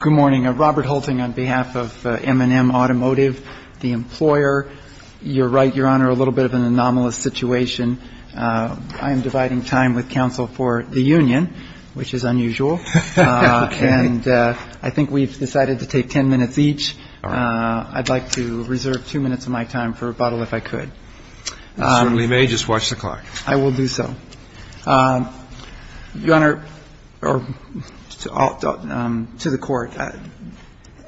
Good morning. Robert Hulting on behalf of M&M Automotive, the employer. You're right, Your Honor, a little bit of an anomalous situation. I am dividing time with counsel for the union, which is unusual. And I think we've decided to take ten minutes each. I'd like to reserve two minutes of my time for rebuttal if I could. You certainly may. Just watch the clock. I will do so. Your Honor, to the Court,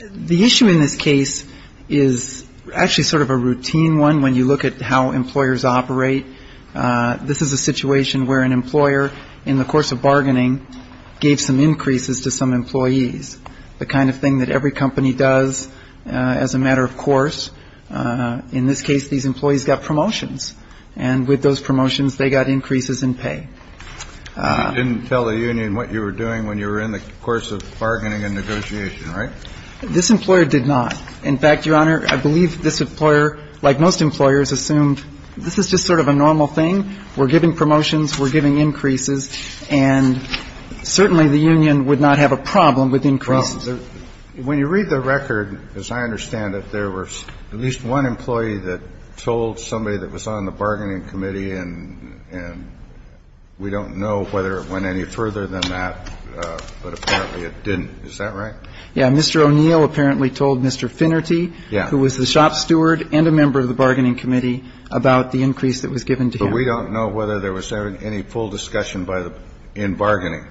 the issue in this case is actually sort of a routine one when you look at how employers operate. This is a situation where an employer, in the course of bargaining, gave some increases to some employees, the kind of thing that every company does as a matter of course. In this case, these employees got promotions. And with those promotions, they got increases in pay. You didn't tell the union what you were doing when you were in the course of bargaining and negotiation, right? This employer did not. In fact, Your Honor, I believe this employer, like most employers, assumed this is just sort of a normal thing. We're giving promotions, we're giving increases, and certainly the union would not have a problem with increases. And I'm not saying that this employer would not have a problem with increases, but I'm not saying that this employer would not have a problem with increases. I'm saying that this employer would not have a problem with increases. When you read the record, as I understand it, there was at least one employee that told somebody that was on the bargaining committee and we don't know whether it went any further than that, but apparently it didn't. Is that right? Yeah. Mr. O'Neill apparently told Mr. Finnerty, who was the shop steward and a member of the bargaining committee, about the increase that was given to him. But we don't know whether there was any full discussion in bargaining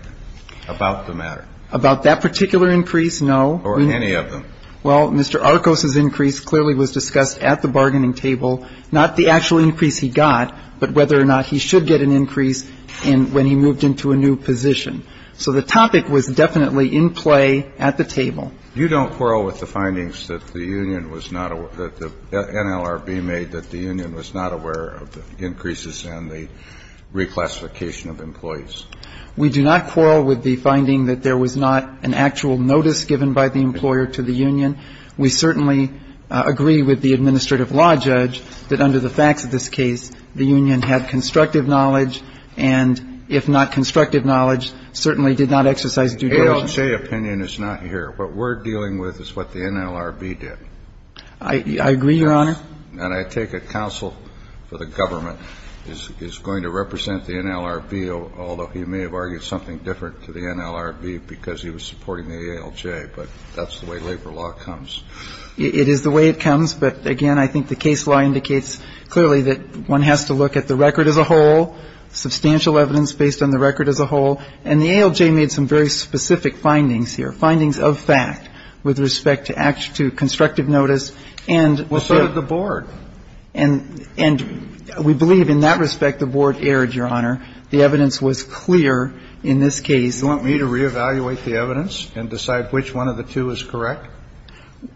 about the matter. About that particular increase, no. Or any of them. Well, Mr. Arcos's increase clearly was discussed at the bargaining table, not the actual increase he got, but whether or not he should get an increase when he moved into a new position. So the topic was definitely in play at the table. You don't quarrel with the findings that the union was not aware of, that the NLRB made that the union was not aware of the increases and the reclassification of employees? We do not quarrel with the finding that there was not an actual notice given by the employer to the union. We certainly agree with the administrative law judge that under the facts of this case, the union had constructive knowledge, and if not constructive knowledge, certainly did not exercise due diligence. ALJ opinion is not here. What we're dealing with is what the NLRB did. I agree, Your Honor. And I take it counsel for the government is going to represent the NLRB, although he may have argued something different to the NLRB because he was supporting the ALJ. But that's the way labor law comes. It is the way it comes. But, again, I think the case law indicates clearly that one has to look at the record as a whole, substantial evidence based on the record as a whole, and the ALJ made some very specific findings here, findings of fact with respect to constructive notice. And so did the board. And we believe in that respect the board erred, Your Honor. The evidence was clear in this case. You want me to reevaluate the evidence and decide which one of the two is correct?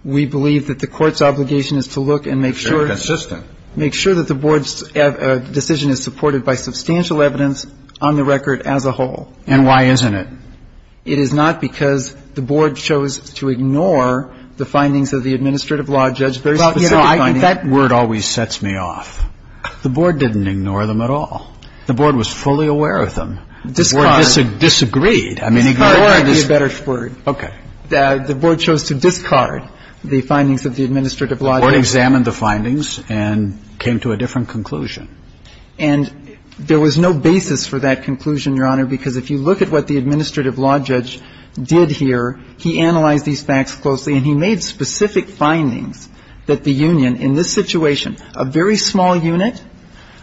We believe that the court's obligation is to look and make sure. It's inconsistent. The board's obligation is to make sure that the board's decision is supported by substantial evidence on the record as a whole. And why isn't it? It is not because the board chose to ignore the findings of the administrative law judge, very specific findings. That word always sets me off. The board didn't ignore them at all. The board was fully aware of them. Discard. The board disagreed. I mean, ignore would be a better word. Okay. The board chose to discard the findings of the administrative law judge. The board examined the findings and came to a different conclusion. And there was no basis for that conclusion, Your Honor, because if you look at what the administrative law judge did here, he analyzed these facts closely and he made specific findings that the union in this situation, a very small unit,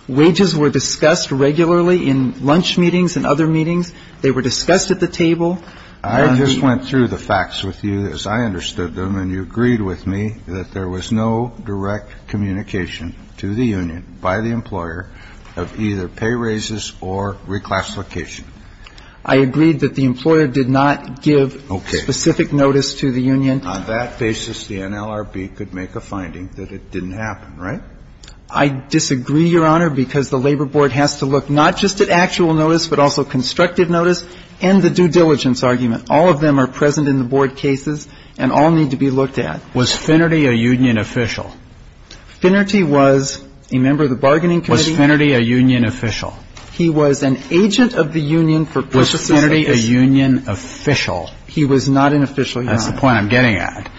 wages were discussed regularly in lunch meetings and other meetings. They were discussed at the table. I just went through the facts with you as I understood them, and you agreed with me that there was no direct communication to the union by the employer of either pay raises or reclassification. I agreed that the employer did not give specific notice to the union. On that basis, the NLRB could make a finding that it didn't happen, right? I disagree, Your Honor, because the labor board has to look not just at actual notice, but also constructive notice and the due diligence argument. All of them are present in the board cases and all need to be looked at. Was Finnerty a union official? Finnerty was a member of the bargaining committee. Was Finnerty a union official? He was an agent of the union for purposes of this. Was Finnerty a union official? He was not an official, Your Honor. That's the point I'm getting at.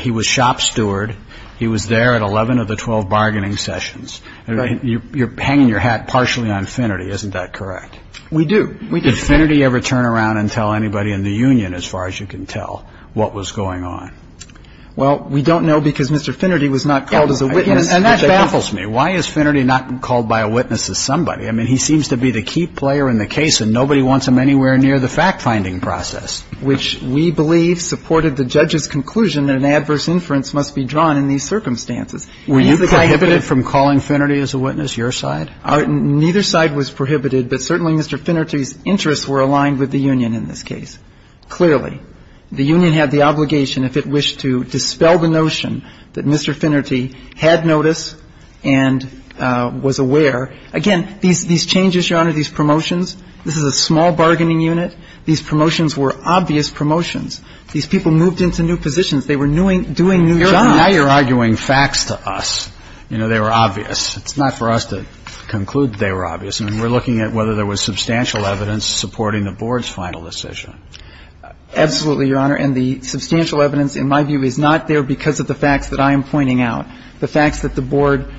He was shop steward. He was there at 11 of the 12 bargaining sessions. You're hanging your hat partially on Finnerty. Isn't that correct? We do. Did Finnerty ever turn around and tell anybody in the union, as far as you can tell, what was going on? Well, we don't know because Mr. Finnerty was not called as a witness. And that baffles me. Why is Finnerty not called by a witness as somebody? I mean, he seems to be the key player in the case, and nobody wants him anywhere near the fact-finding process. Which we believe supported the judge's conclusion that an adverse inference must be drawn in these circumstances. Were you prohibited from calling Finnerty as a witness, your side? Neither side was prohibited, but certainly Mr. Finnerty's interests were aligned with the union in this case, clearly. The union had the obligation if it wished to dispel the notion that Mr. Finnerty had notice and was aware. Again, these changes, Your Honor, these promotions, this is a small bargaining unit. These promotions were obvious promotions. These people moved into new positions. They were doing new jobs. Now you're arguing facts to us. You know, they were obvious. It's not for us to conclude that they were obvious. I mean, we're looking at whether there was substantial evidence supporting the Board's final decision. Absolutely, Your Honor. And the substantial evidence, in my view, is not there because of the facts that I am pointing out, the facts that the Board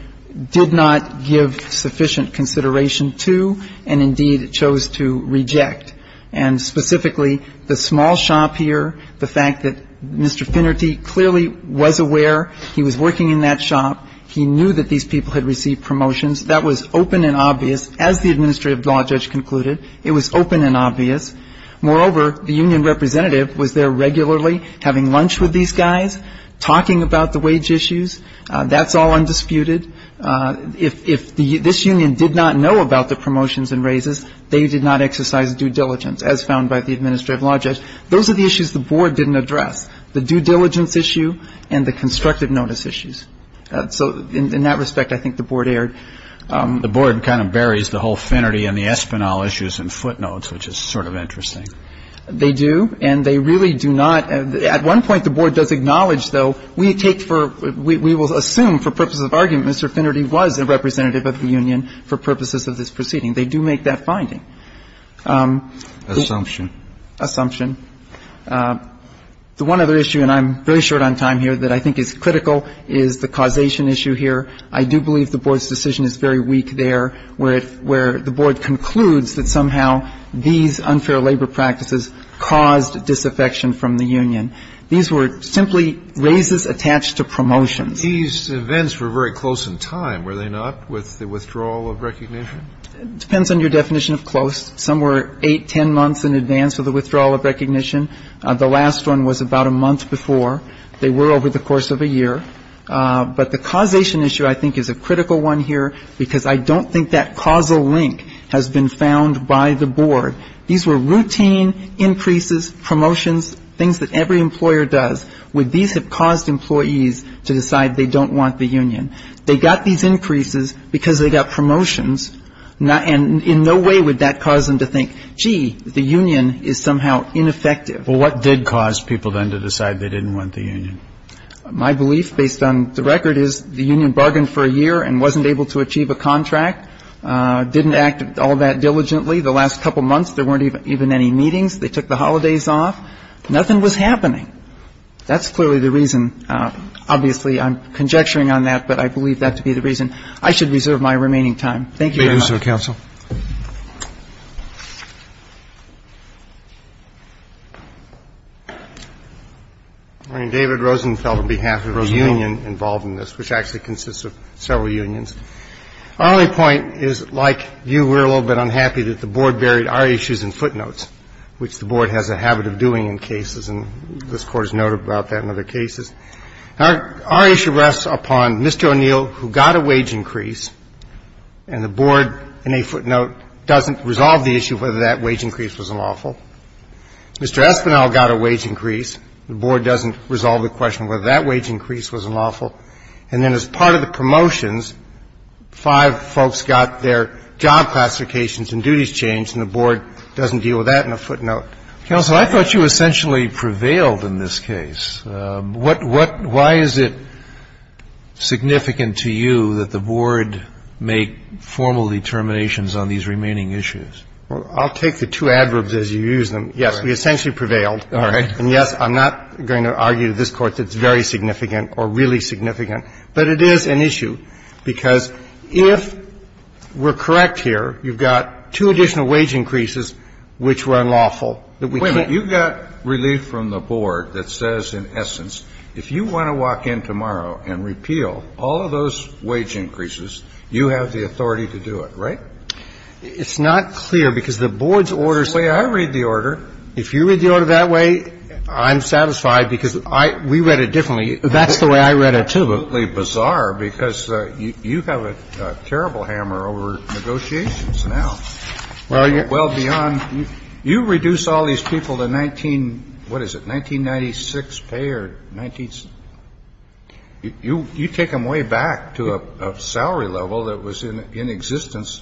did not give sufficient consideration to and, indeed, chose to reject. And specifically, the small shop here, the fact that Mr. Finnerty clearly was aware he was working in that shop. He knew that these people had received promotions. That was open and obvious, as the administrative law judge concluded. It was open and obvious. Moreover, the union representative was there regularly having lunch with these guys, talking about the wage issues. That's all undisputed. If this union did not know about the promotions and raises, they did not exercise due diligence, as found by the administrative law judge. Those are the issues the Board didn't address, the due diligence issue and the constructive notice issues. So in that respect, I think the Board erred. The Board kind of buries the whole Finnerty and the Espinal issues in footnotes, which is sort of interesting. They do, and they really do not. At one point, the Board does acknowledge, though, we take for we will assume for purposes of argument Mr. Finnerty was a representative of the union for purposes of this proceeding. They do make that finding. Assumption. Assumption. The one other issue, and I'm very short on time here, that I think is critical is the causation issue here. I do believe the Board's decision is very weak there, where the Board concludes that somehow these unfair labor practices caused disaffection from the union. These were simply raises attached to promotions. These events were very close in time, were they not, with the withdrawal of recognition? It depends on your definition of close. Some were eight, ten months in advance of the withdrawal of recognition. The last one was about a month before. They were over the course of a year. But the causation issue I think is a critical one here because I don't think that causal link has been found by the Board. These were routine increases, promotions, things that every employer does. Would these have caused employees to decide they don't want the union? They got these increases because they got promotions. And in no way would that cause them to think, gee, the union is somehow ineffective. Well, what did cause people then to decide they didn't want the union? My belief, based on the record, is the union bargained for a year and wasn't able to achieve a contract, didn't act all that diligently. The last couple months there weren't even any meetings. They took the holidays off. Nothing was happening. That's clearly the reason. Obviously, I'm conjecturing on that, but I believe that to be the reason. I should reserve my remaining time. Thank you, Your Honor. Thank you, Mr. Counsel. I mean, David Rosenfeld, on behalf of the union involved in this, which actually consists of several unions, our only point is, like you, we're a little bit unhappy that the Board buried our issues in footnotes, which the Board has a habit of doing in cases. And this Court has noted about that in other cases. Our issue rests upon Mr. O'Neill, who got a wage increase, and the Board, in a footnote, doesn't resolve the issue whether that wage increase was unlawful. Mr. Espinal got a wage increase. The Board doesn't resolve the question whether that wage increase was unlawful. And then as part of the promotions, five folks got their job classifications and duties changed, and the Board doesn't deal with that in a footnote. Counsel, I thought you essentially prevailed in this case. What why is it significant to you that the Board make formal determinations on these remaining issues? Well, I'll take the two adverbs as you use them. Yes, we essentially prevailed. All right. And yes, I'm not going to argue to this Court that it's very significant or really significant, but it is an issue, because if we're correct here, you've got two additional wage increases which were unlawful that we can't. Wait a minute. You've got relief from the Board that says, in essence, if you want to walk in tomorrow and repeal all of those wage increases, you have the authority to do it, right? It's not clear, because the Board's orders say. I read the order. If you read the order that way, I'm satisfied, because I we read it differently. That's the way I read it, too. Absolutely bizarre, because you have a terrible hammer over negotiations now. Well, you're. Well, beyond. You reduce all these people to 19, what is it, 1996 pay or 19. You take them way back to a salary level that was in existence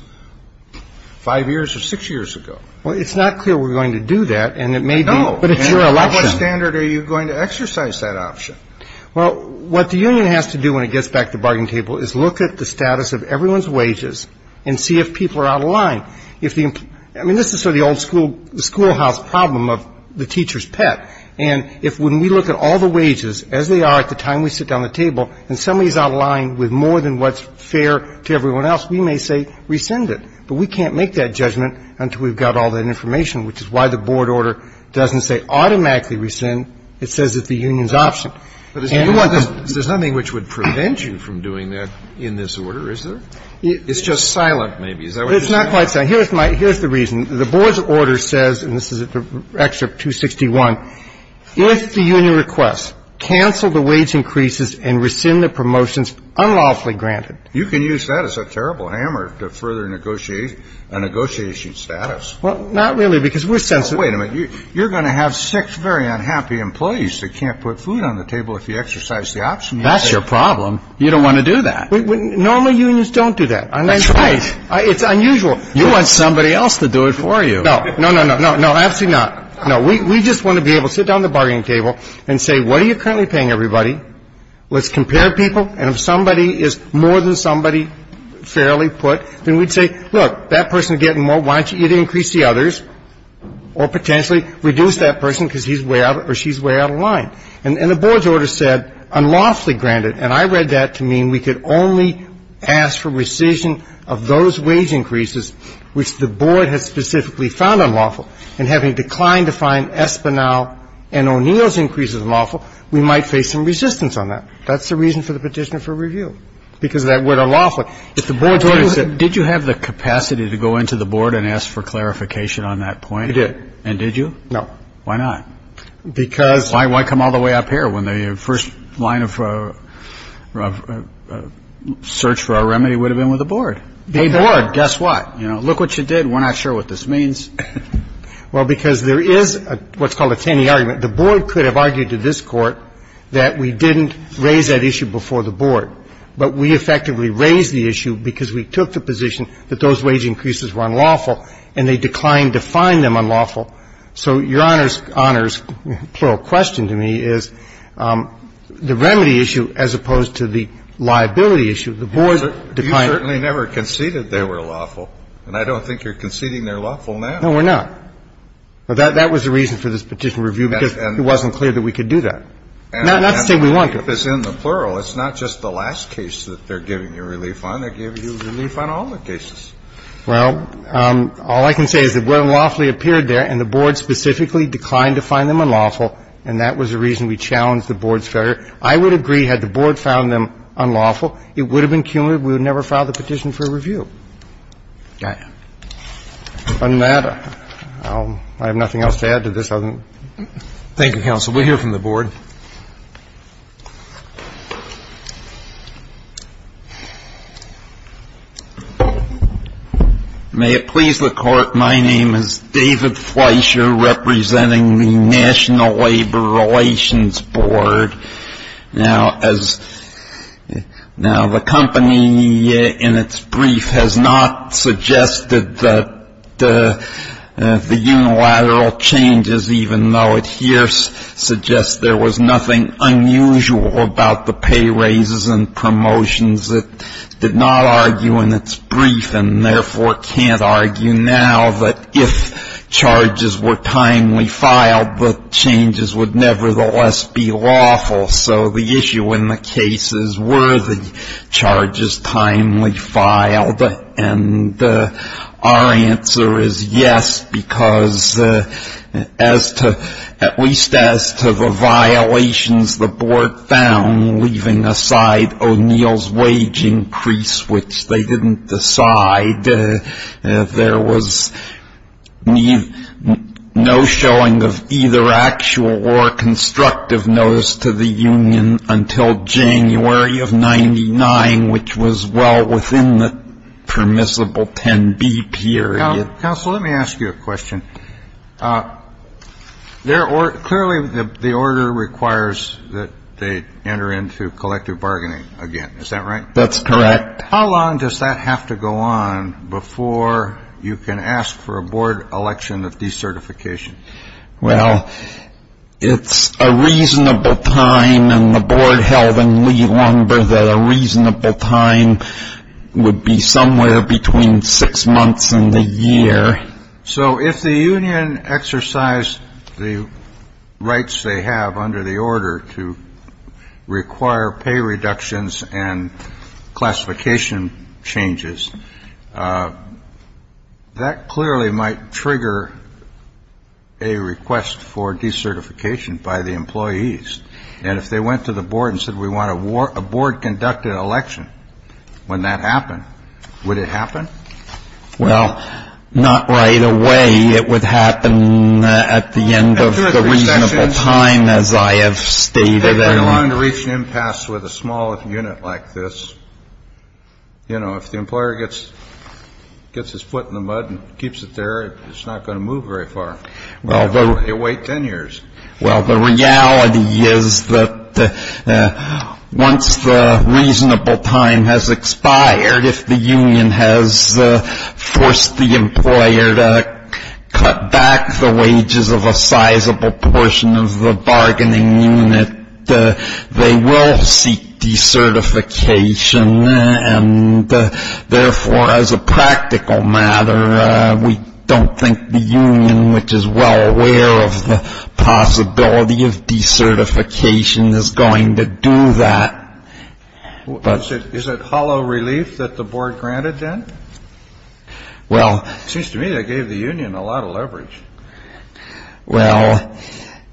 five years or six years ago. Well, it's not clear we're going to do that, and it may be. No. But it's your election. At what standard are you going to exercise that option? Well, what the union has to do when it gets back to the bargain table is look at the status of everyone's wages and see if people are out of line. I mean, this is sort of the old schoolhouse problem of the teacher's pet. And if when we look at all the wages as they are at the time we sit down at the table and somebody is out of line with more than what's fair to everyone else, we may say rescind it. But we can't make that judgment until we've got all that information, which is why the Board order doesn't say automatically rescind. It says it's the union's option. But is there something which would prevent you from doing that in this order? Is there? It's just silent maybe. Is that what you're saying? It's not quite silent. Here's my – here's the reason. The Board's order says, and this is in Excerpt 261, if the union requests, cancel the wage increases and rescind the promotions unlawfully granted. You can use that as a terrible hammer to further negotiate a negotiation status. Well, not really, because we're sensitive. Wait a minute. You're going to have six very unhappy employees that can't put food on the table if you exercise the option. That's your problem. You don't want to do that. Normal unions don't do that. That's right. It's unusual. You want somebody else to do it for you. No, no, no, no. No, absolutely not. No. We just want to be able to sit down at the bargaining table and say, what are you currently paying everybody? Let's compare people. And if somebody is more than somebody fairly put, then we'd say, look, that person is getting more. Why don't you either increase the others or potentially reduce that person because he's way out or she's way out of line? And the board's order said unlawfully granted. And I read that to mean we could only ask for rescission of those wage increases which the board has specifically found unlawful. And having declined to find Espinal and O'Neill's increases unlawful, we might face some resistance on that. That's the reason for the Petitioner for Review, because of that word unlawful. Did you have the capacity to go into the board and ask for clarification on that point? You did. And did you? No. Why not? Because. Why come all the way up here when the first line of search for a remedy would have been with the board? Hey, board, guess what? You know, look what you did. We're not sure what this means. Well, because there is what's called a tiny argument. The board could have argued to this court that we didn't raise that issue before the board, but we effectively raised the issue because we took the position that those wage increases were unlawful and they declined to find them unlawful. So Your Honor's plural question to me is the remedy issue as opposed to the liability issue. The board declined. You certainly never conceded they were lawful, and I don't think you're conceding they're lawful now. No, we're not. That was the reason for this Petitioner for Review, because it wasn't clear that we could do that. Not to say we want to. If it's in the plural, it's not just the last case that they're giving you relief on. They're giving you relief on all the cases. Well, all I can say is they were unlawfully appeared there, and the board specifically declined to find them unlawful, and that was the reason we challenged the board's failure. I would agree, had the board found them unlawful, it would have been cumulative. We would never have filed the Petitioner for Review. I have nothing else to add to this other than that. Thank you, counsel. We'll hear from the board. May it please the Court, my name is David Fleischer, representing the National Labor Relations Board. Now, the company, in its brief, has not suggested that the unilateral changes, even though it here suggests there was nothing unusual about the pay raises and promotions, it did not argue in its brief and therefore can't argue now that if charges were timely filed, the changes would nevertheless be lawful. So the issue in the case is, were the charges timely filed? And our answer is yes, because as to, at least as to the violations the board found, leaving aside O'Neill's wage increase, which they didn't decide, there was no showing of either actual or constructive notice to the union until January of 99, which was well within the permissible 10B period. Counsel, let me ask you a question. Clearly, the order requires that they enter into collective bargaining again. Is that right? That's correct. How long does that have to go on before you can ask for a board election of decertification? Well, it's a reasonable time, and the board held in Lee-Lumber that a reasonable time would be somewhere between six months and a year. So if the union exercised the rights they have under the order to require pay reductions and classification changes, that clearly might trigger a request for decertification by the employees. And if they went to the board and said, we want a board-conducted election when that happened, would it happen? Well, not right away. It would happen at the end of the reasonable time, as I have stated. They're going to reach an impasse with a small unit like this. You know, if the employer gets his foot in the mud and keeps it there, it's not going to move very far. They wait 10 years. Well, the reality is that once the reasonable time has expired, if the union has forced the employer to cut back the wages of a sizable portion of the bargaining unit, they will seek decertification. And therefore, as a practical matter, we don't think the union, which is well aware of the possibility of decertification, is going to do that. Is it hollow relief that the board granted then? It seems to me they gave the union a lot of leverage. Well,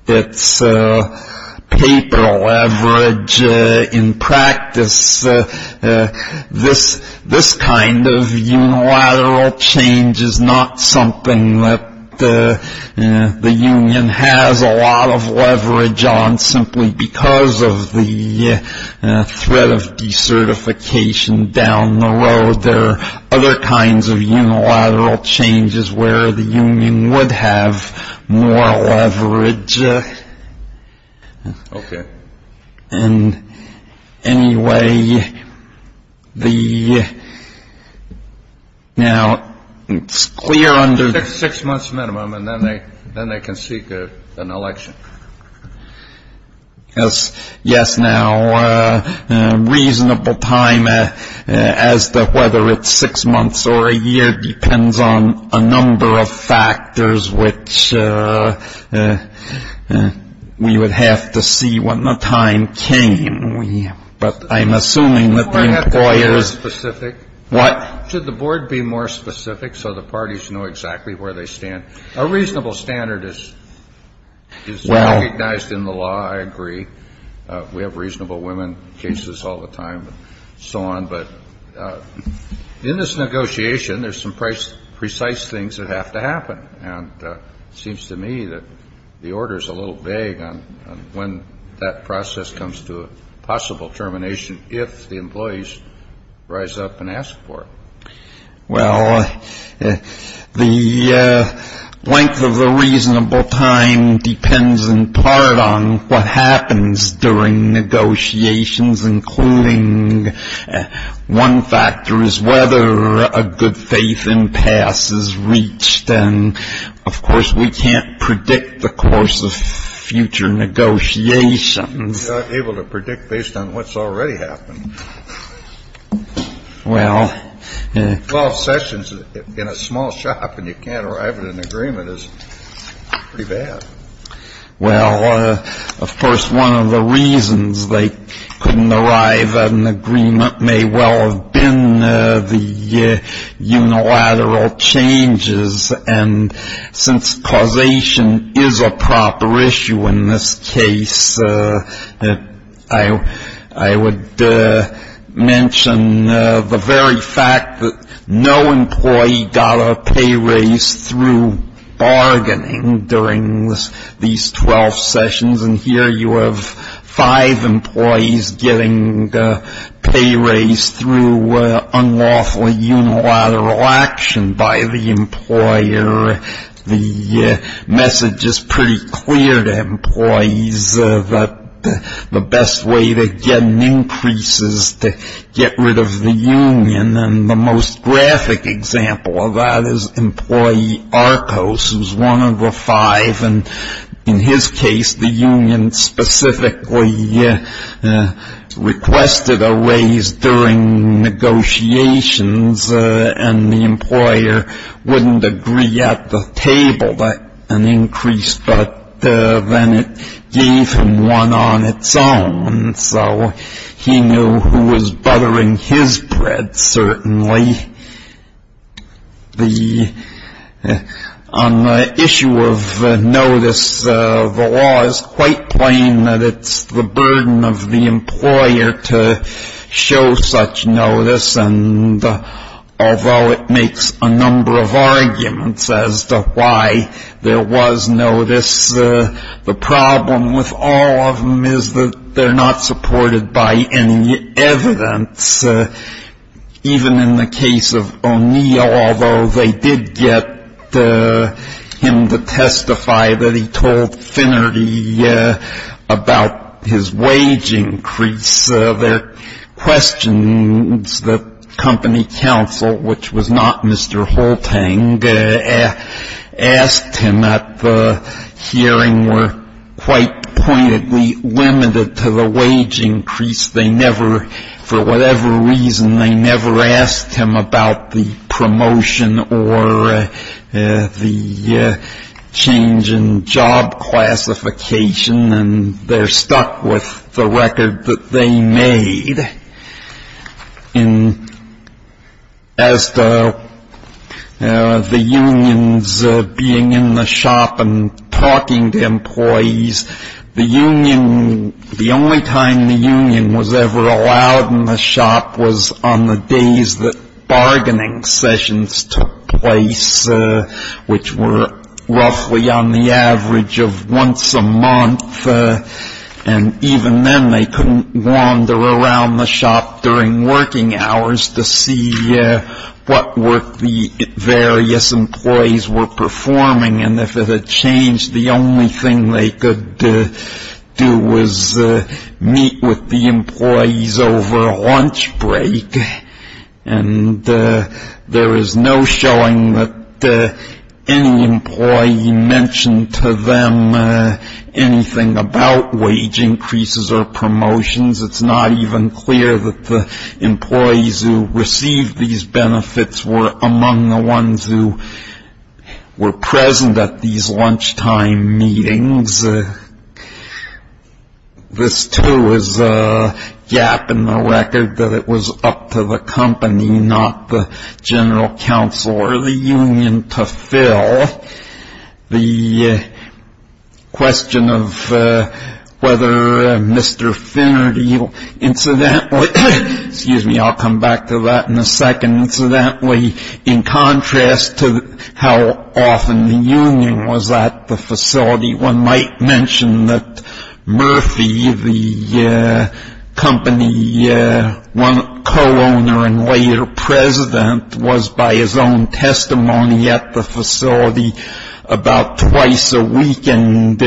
it's paper leverage in practice. This kind of unilateral change is not something that the union has a lot of leverage on simply because of the threat of decertification down the road. There are other kinds of unilateral changes where the union would have more leverage. Okay. And anyway, now it's clear under- Six months minimum, and then they can seek an election. Yes. Yes. Now, reasonable time as to whether it's six months or a year depends on a number of factors, which we would have to see when the time came. But I'm assuming that the employers- Should the board be more specific so the parties know exactly where they stand? A reasonable standard is recognized in the law. I agree. We have reasonable women cases all the time and so on. But in this negotiation, there's some precise things that have to happen, and it seems to me that the order is a little vague on when that process comes to a possible termination, if the employees rise up and ask for it. Well, the length of the reasonable time depends in part on what happens during negotiations, including one factor is whether a good faith impasse is reached. And, of course, we can't predict the course of future negotiations. You're not able to predict based on what's already happened. Well- Twelve sessions in a small shop and you can't arrive at an agreement is pretty bad. Well, of course, one of the reasons they couldn't arrive at an agreement may well have been the unilateral changes. And since causation is a proper issue in this case, I would mention the very fact that no employee got a pay raise through bargaining during these twelve sessions. And here you have five employees getting a pay raise through unlawfully unilateral action by the employer. The message is pretty clear to employees that the best way to get an increase is to get rid of the union. And the most graphic example of that is employee Arcos, who's one of the five. And in his case, the union specifically requested a raise during negotiations, and the employer wouldn't agree at the table that an increase, but then it gave him one on its own. So he knew who was buttering his bread, certainly. On the issue of notice, the law is quite plain that it's the burden of the employer to show such notice. And although it makes a number of arguments as to why there was notice, the problem with all of them is that they're not supported by any evidence, even in the case of O'Neill, although they did get him to testify that he told Finnerty about his wage increase. Their questions, the company counsel, which was not Mr. Holtang, asked him at the hearing, were quite pointedly limited to the wage increase. They never, for whatever reason, they never asked him about the promotion or the change in job classification, and they're stuck with the record that they made. As to the unions being in the shop and talking to employees, the union, the only time the union was ever allowed in the shop was on the days that bargaining sessions took place, which were roughly on the average of once a month. And even then, they couldn't wander around the shop during working hours to see what work the various employees were performing. And if it had changed, the only thing they could do was meet with the employees over lunch break. And there is no showing that any employee mentioned to them anything about wage increases or promotions. It's not even clear that the employees who received these benefits were among the ones who were present at these lunchtime meetings. This, too, is a gap in the record that it was up to the company, not the general counsel or the union, to fill. The question of whether Mr. Finnerty incidentally, excuse me, I'll come back to that in a second, in contrast to how often the union was at the facility. One might mention that Murphy, the company co-owner and later president, was by his own testimony at the facility about twice a week, and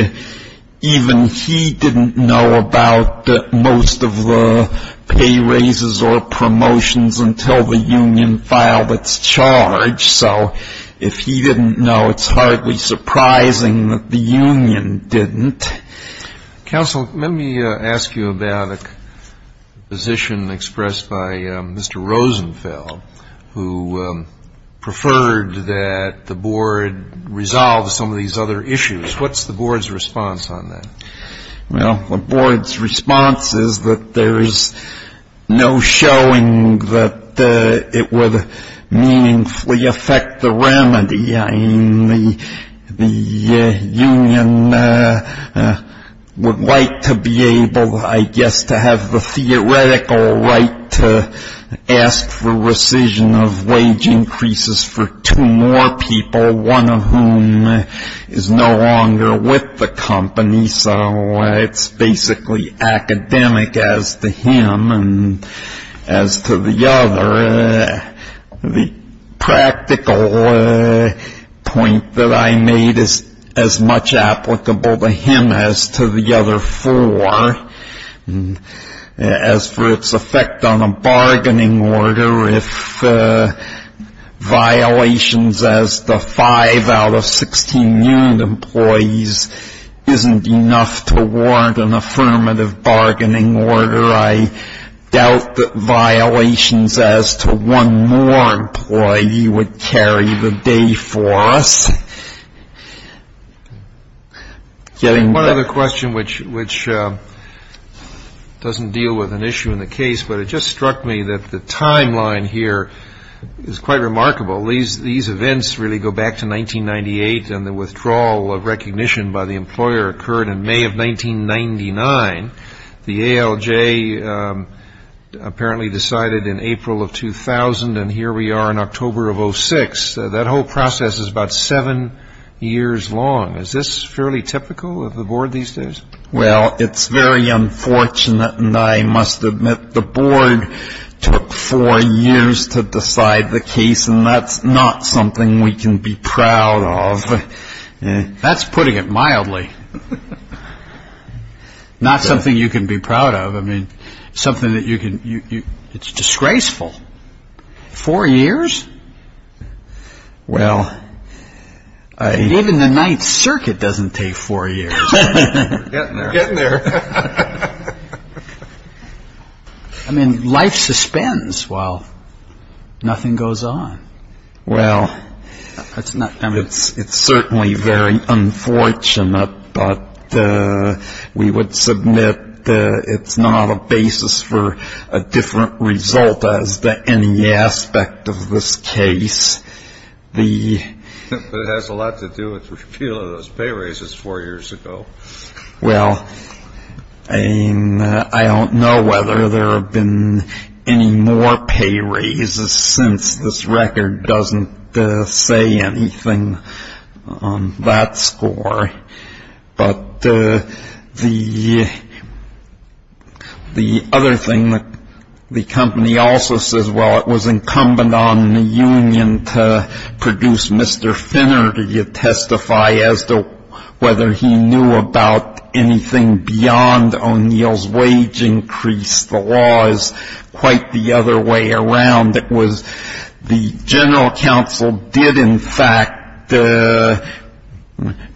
even he didn't know about most of the pay raises or promotions until the union filed its charge. So if he didn't know, it's hardly surprising that the union didn't. Counsel, let me ask you about a position expressed by Mr. Rosenfeld, who preferred that the board resolve some of these other issues. What's the board's response on that? Well, the board's response is that there is no showing that it would meaningfully affect the remedy. I mean, the union would like to be able, I guess, to have the theoretical right to ask for rescission of wage increases for two more people, one of whom is no longer with the company, so it's basically academic as to him and as to the other. The practical point that I made is as much applicable to him as to the other four. As for its effect on a bargaining order, if violations as to five out of 16 union employees isn't enough to warrant an affirmative bargaining order, I doubt that violations as to one more employee would carry the day for us. One other question, which doesn't deal with an issue in the case, but it just struck me that the timeline here is quite remarkable. These events really go back to 1998, and the withdrawal of recognition by the employer occurred in May of 1999. The ALJ apparently decided in April of 2000, and here we are in October of 2006. That whole process is about seven years long. Is this fairly typical of the board these days? Well, it's very unfortunate, and I must admit the board took four years to decide the case, and that's not something we can be proud of. That's putting it mildly, not something you can be proud of. It's disgraceful. Four years? Well, I... Even the Ninth Circuit doesn't take four years. We're getting there. We're getting there. I mean, life suspends while nothing goes on. Well, it's certainly very unfortunate, but we would submit it's not a basis for a different result as to any aspect of this case. But it has a lot to do with the repeal of those pay raises four years ago. Well, I don't know whether there have been any more pay raises since this record doesn't say anything on that score. But the other thing that the company also says, well, it was incumbent on the union to produce Mr. Finner, to testify as to whether he knew about anything beyond O'Neill's wage increase. The law is quite the other way around. It was the general counsel did, in fact,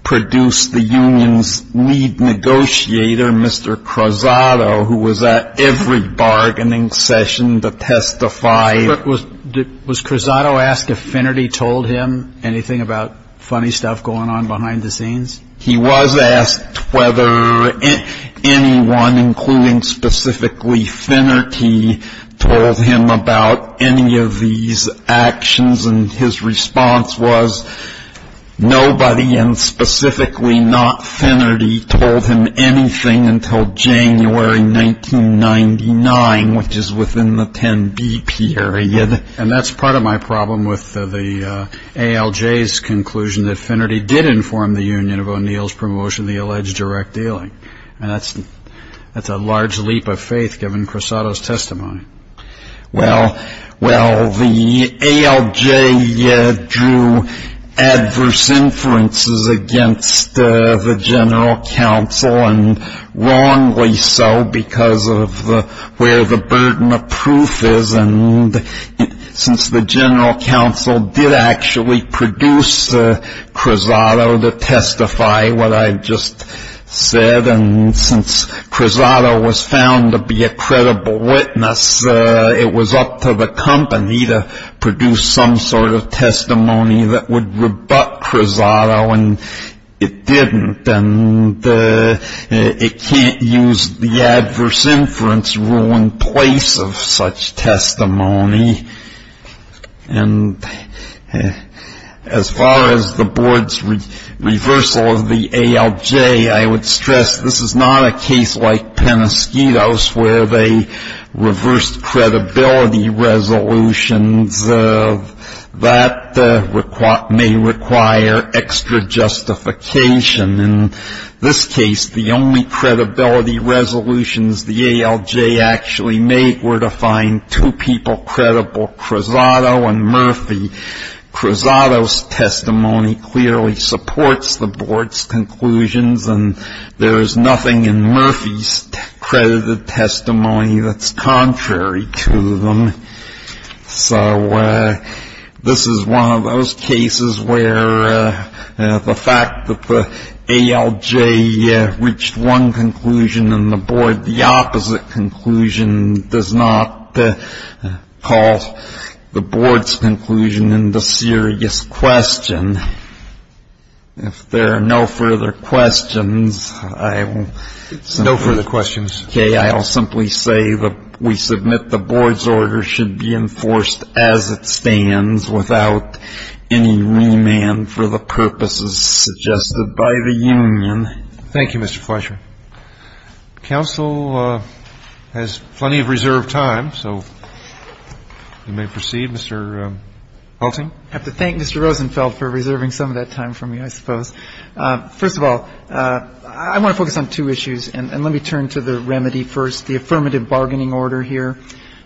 produce the union's lead negotiator, Mr. Cruzado, who was at every bargaining session to testify. Was Cruzado asked if Finnerty told him anything about funny stuff going on behind the scenes? He was asked whether anyone, including specifically Finnerty, told him about any of these actions. And his response was nobody, and specifically not Finnerty, told him anything until January 1999, which is within the 10-B period. And that's part of my problem with the ALJ's conclusion that Finnerty did inform the union of O'Neill's promotion of the alleged direct dealing. And that's a large leap of faith given Cruzado's testimony. Well, the ALJ drew adverse inferences against the general counsel, and wrongly so because of where the burden of proof is. And since the general counsel did actually produce Cruzado to testify what I just said, and since Cruzado was found to be a credible witness, it was up to the company to produce some sort of testimony that would rebut Cruzado, and it didn't. And it can't use the adverse inference rule in place of such testimony. And as far as the board's reversal of the ALJ, I would stress, this is not a case like Penosquito's where they reversed credibility resolutions. That may require extra justification. In this case, the only credibility resolutions the ALJ actually made were to find two people credible, Cruzado and Murphy. Cruzado's testimony clearly supports the board's conclusions, and there is nothing in Murphy's credited testimony that's contrary to them. So this is one of those cases where the fact that the ALJ reached one conclusion and the board the opposite conclusion does not call the board's conclusion into serious question. If there are no further questions, I will simply say that we submit the board's order should be enforced as it stands without any remand for the purposes suggested by the union. Thank you, Mr. Fleishman. Counsel has plenty of reserved time, so you may proceed. Mr. Hulting. I have to thank Mr. Rosenfeld for reserving some of that time for me, I suppose. First of all, I want to focus on two issues, and let me turn to the remedy first, the affirmative bargaining order here.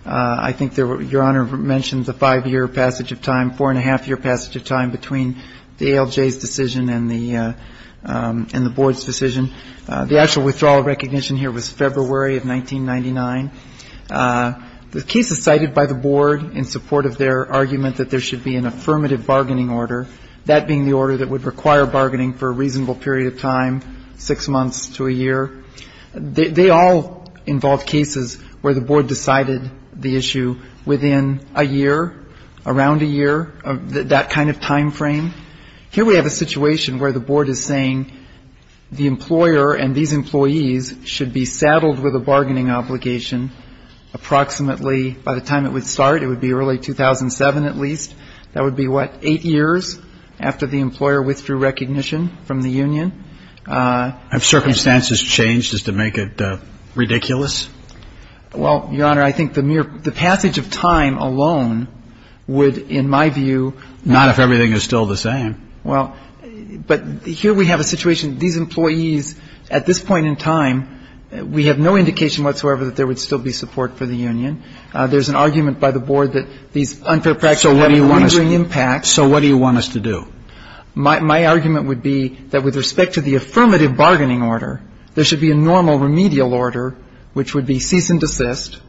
I think Your Honor mentioned the five-year passage of time, four-and-a-half-year passage of time between the ALJ's decision and the board's decision. The actual withdrawal of recognition here was February of 1999. The case is cited by the board in support of their argument that there should be an affirmative bargaining order, that being the order that would require bargaining for a reasonable period of time, six months to a year. They all involve cases where the board decided the issue within a year, around a year, that kind of time frame. Here we have a situation where the board is saying the employer and these employees should be saddled with a bargaining obligation approximately, by the time it would start, it would be early 2007 at least. That would be, what, eight years after the employer withdrew recognition from the union. Have circumstances changed just to make it ridiculous? Well, Your Honor, I think the mere passage of time alone would, in my view, Not if everything is still the same. Well, but here we have a situation, these employees, at this point in time, we have no indication whatsoever that there would still be support for the union. There's an argument by the board that these unfair practices have a lingering impact. So what do you want us to do? My argument would be that with respect to the affirmative bargaining order, there should be a normal remedial order, which would be cease and desist,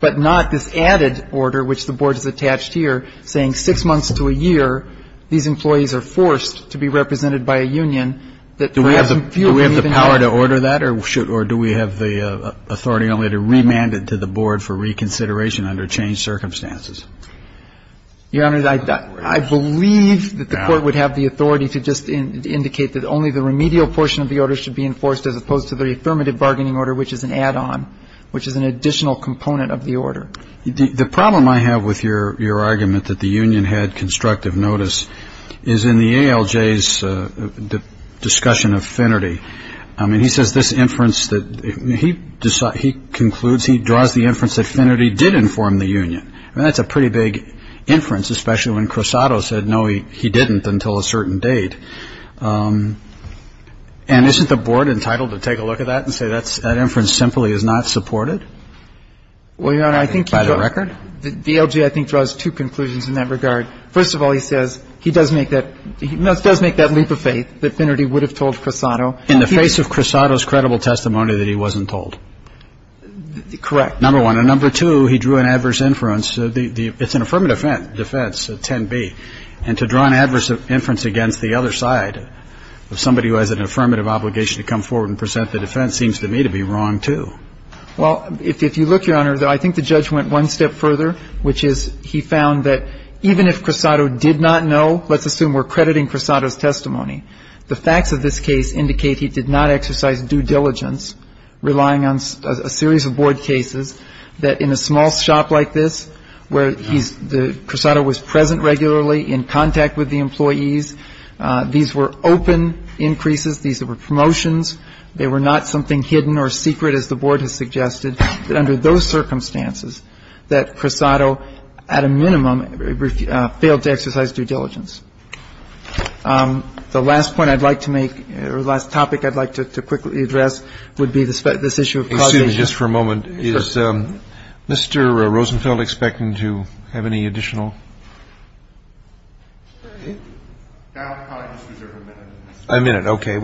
but not this added order, which the board has attached here, saying six months to a year, these employees are forced to be represented by a union that perhaps in few weeks Do we have the power to order that or do we have the authority only to remand it to the board for reconsideration under changed circumstances? Your Honor, I believe that the court would have the authority to just indicate that only the remedial portion of the order should be enforced, as opposed to the affirmative bargaining order, which is an add-on, which is an additional component of the order. The problem I have with your argument that the union had constructive notice is in the ALJ's discussion of Finnerty. I mean, he says this inference that he concludes, he draws the inference that Finnerty did inform the union. I mean, that's a pretty big inference, especially when Crisanto said, no, he didn't until a certain date. And isn't the board entitled to take a look at that and say that inference simply is not supported? By the record? Your Honor, I think the ALJ, I think, draws two conclusions in that regard. First of all, he says he does make that leap of faith that Finnerty would have told Crisanto. In the face of Crisanto's credible testimony that he wasn't told? Correct. Number one. And number two, he drew an adverse inference. It's an affirmative defense, 10b. And to draw an adverse inference against the other side of somebody who has an affirmative obligation to come forward and present the defense seems to me to be wrong, too. Well, if you look, Your Honor, I think the judge went one step further, which is he found that even if Crisanto did not know, let's assume we're crediting Crisanto's testimony, the facts of this case indicate he did not exercise due diligence, relying on a series of board cases that in a small shop like this where he's the Crisanto was present regularly in contact with the employees. These were open increases. These were promotions. They were not something hidden or secret, as the board has suggested, that under those circumstances that Crisanto at a minimum failed to exercise due diligence. The last point I'd like to make or the last topic I'd like to quickly address would be this issue of causation. And just for a moment, is Mr. Rosenfeld expecting to have any additional? I'll just reserve a minute. A minute, okay.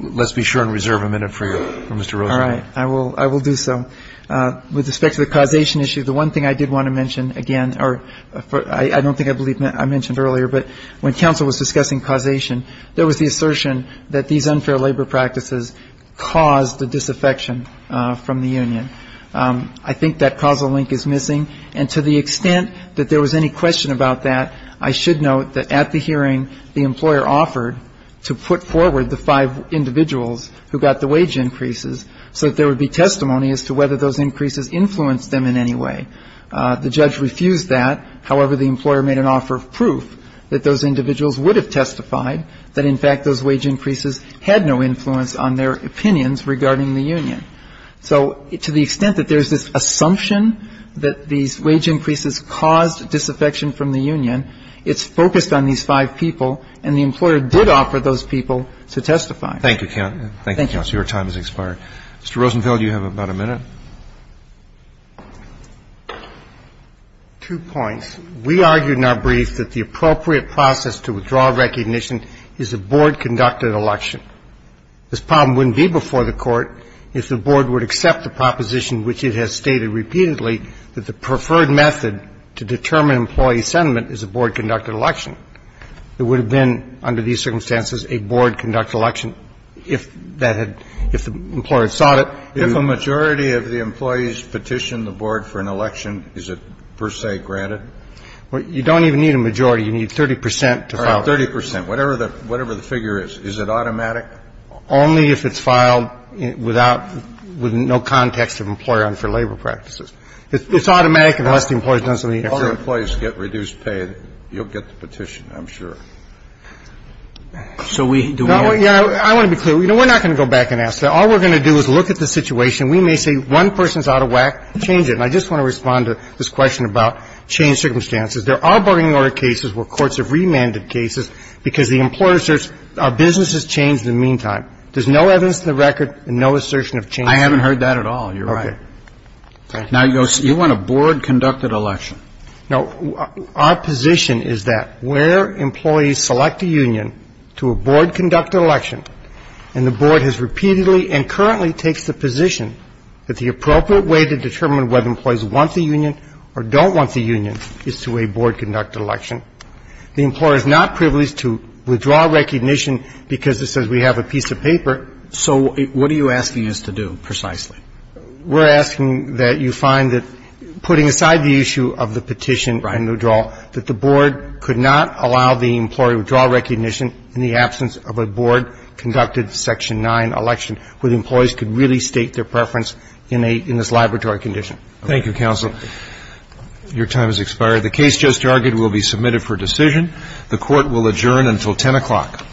Let's be sure and reserve a minute for you, Mr. Rosenfeld. All right. I will do so. With respect to the causation issue, the one thing I did want to mention again, or I don't think I mentioned earlier, but when counsel was discussing causation, there was the assertion that these unfair labor practices caused a disaffection from the union. I think that causal link is missing. And to the extent that there was any question about that, I should note that at the hearing, the employer offered to put forward the five individuals who got the wage increases so that there would be testimony as to whether those increases influenced them in any way. The judge refused that. However, the employer made an offer of proof that those individuals would have testified that, in fact, those wage increases had no influence on their opinions regarding the union. So to the extent that there's this assumption that these wage increases caused disaffection from the union, it's focused on these five people, and the employer did offer those people to testify. Thank you, counsel. Thank you, counsel. Your time has expired. Mr. Rosenfeld, you have about a minute. Two points. We argued in our brief that the appropriate process to withdraw recognition is a board-conducted election. This problem wouldn't be before the Court if the board would accept the proposition, which it has stated repeatedly, that the preferred method to determine employee sentiment is a board-conducted election. There would have been, under these circumstances, a board-conducted election if that had been the employer sought it. If a majority of the employees petition the board for an election, is it, per se, granted? You don't even need a majority. You need 30 percent to file it. All right, 30 percent, whatever the figure is. Is it automatic? Only if it's filed without no context of employer and for labor practices. It's automatic unless the employee has done something else. If all the employees get reduced pay, you'll get the petition, I'm sure. So we do want to be clear. I want to be clear. We're not going to go back and ask that. All we're going to do is look at the situation. We may say one person's out of whack, change it. And I just want to respond to this question about changed circumstances. There are bargaining order cases where courts have remanded cases because the employer asserts our business has changed in the meantime. There's no evidence in the record and no assertion of change. I haven't heard that at all. You're right. Okay. Now, you want a board-conducted election. No. Our position is that where employees select a union to a board-conducted election, and the board has repeatedly and currently takes the position that the appropriate way to determine whether employees want the union or don't want the union is to a board-conducted election. The employer is not privileged to withdraw recognition because it says we have a piece of paper. So what are you asking us to do, precisely? We're asking that you find that putting aside the issue of the petition and the withdrawal, that the board could not allow the employee to withdraw recognition in the absence of a board-conducted Section 9 election where the employees could really state their preference in this laboratory condition. Thank you, counsel. Your time has expired. The case just argued will be submitted for decision. The Court will adjourn until 10 o'clock.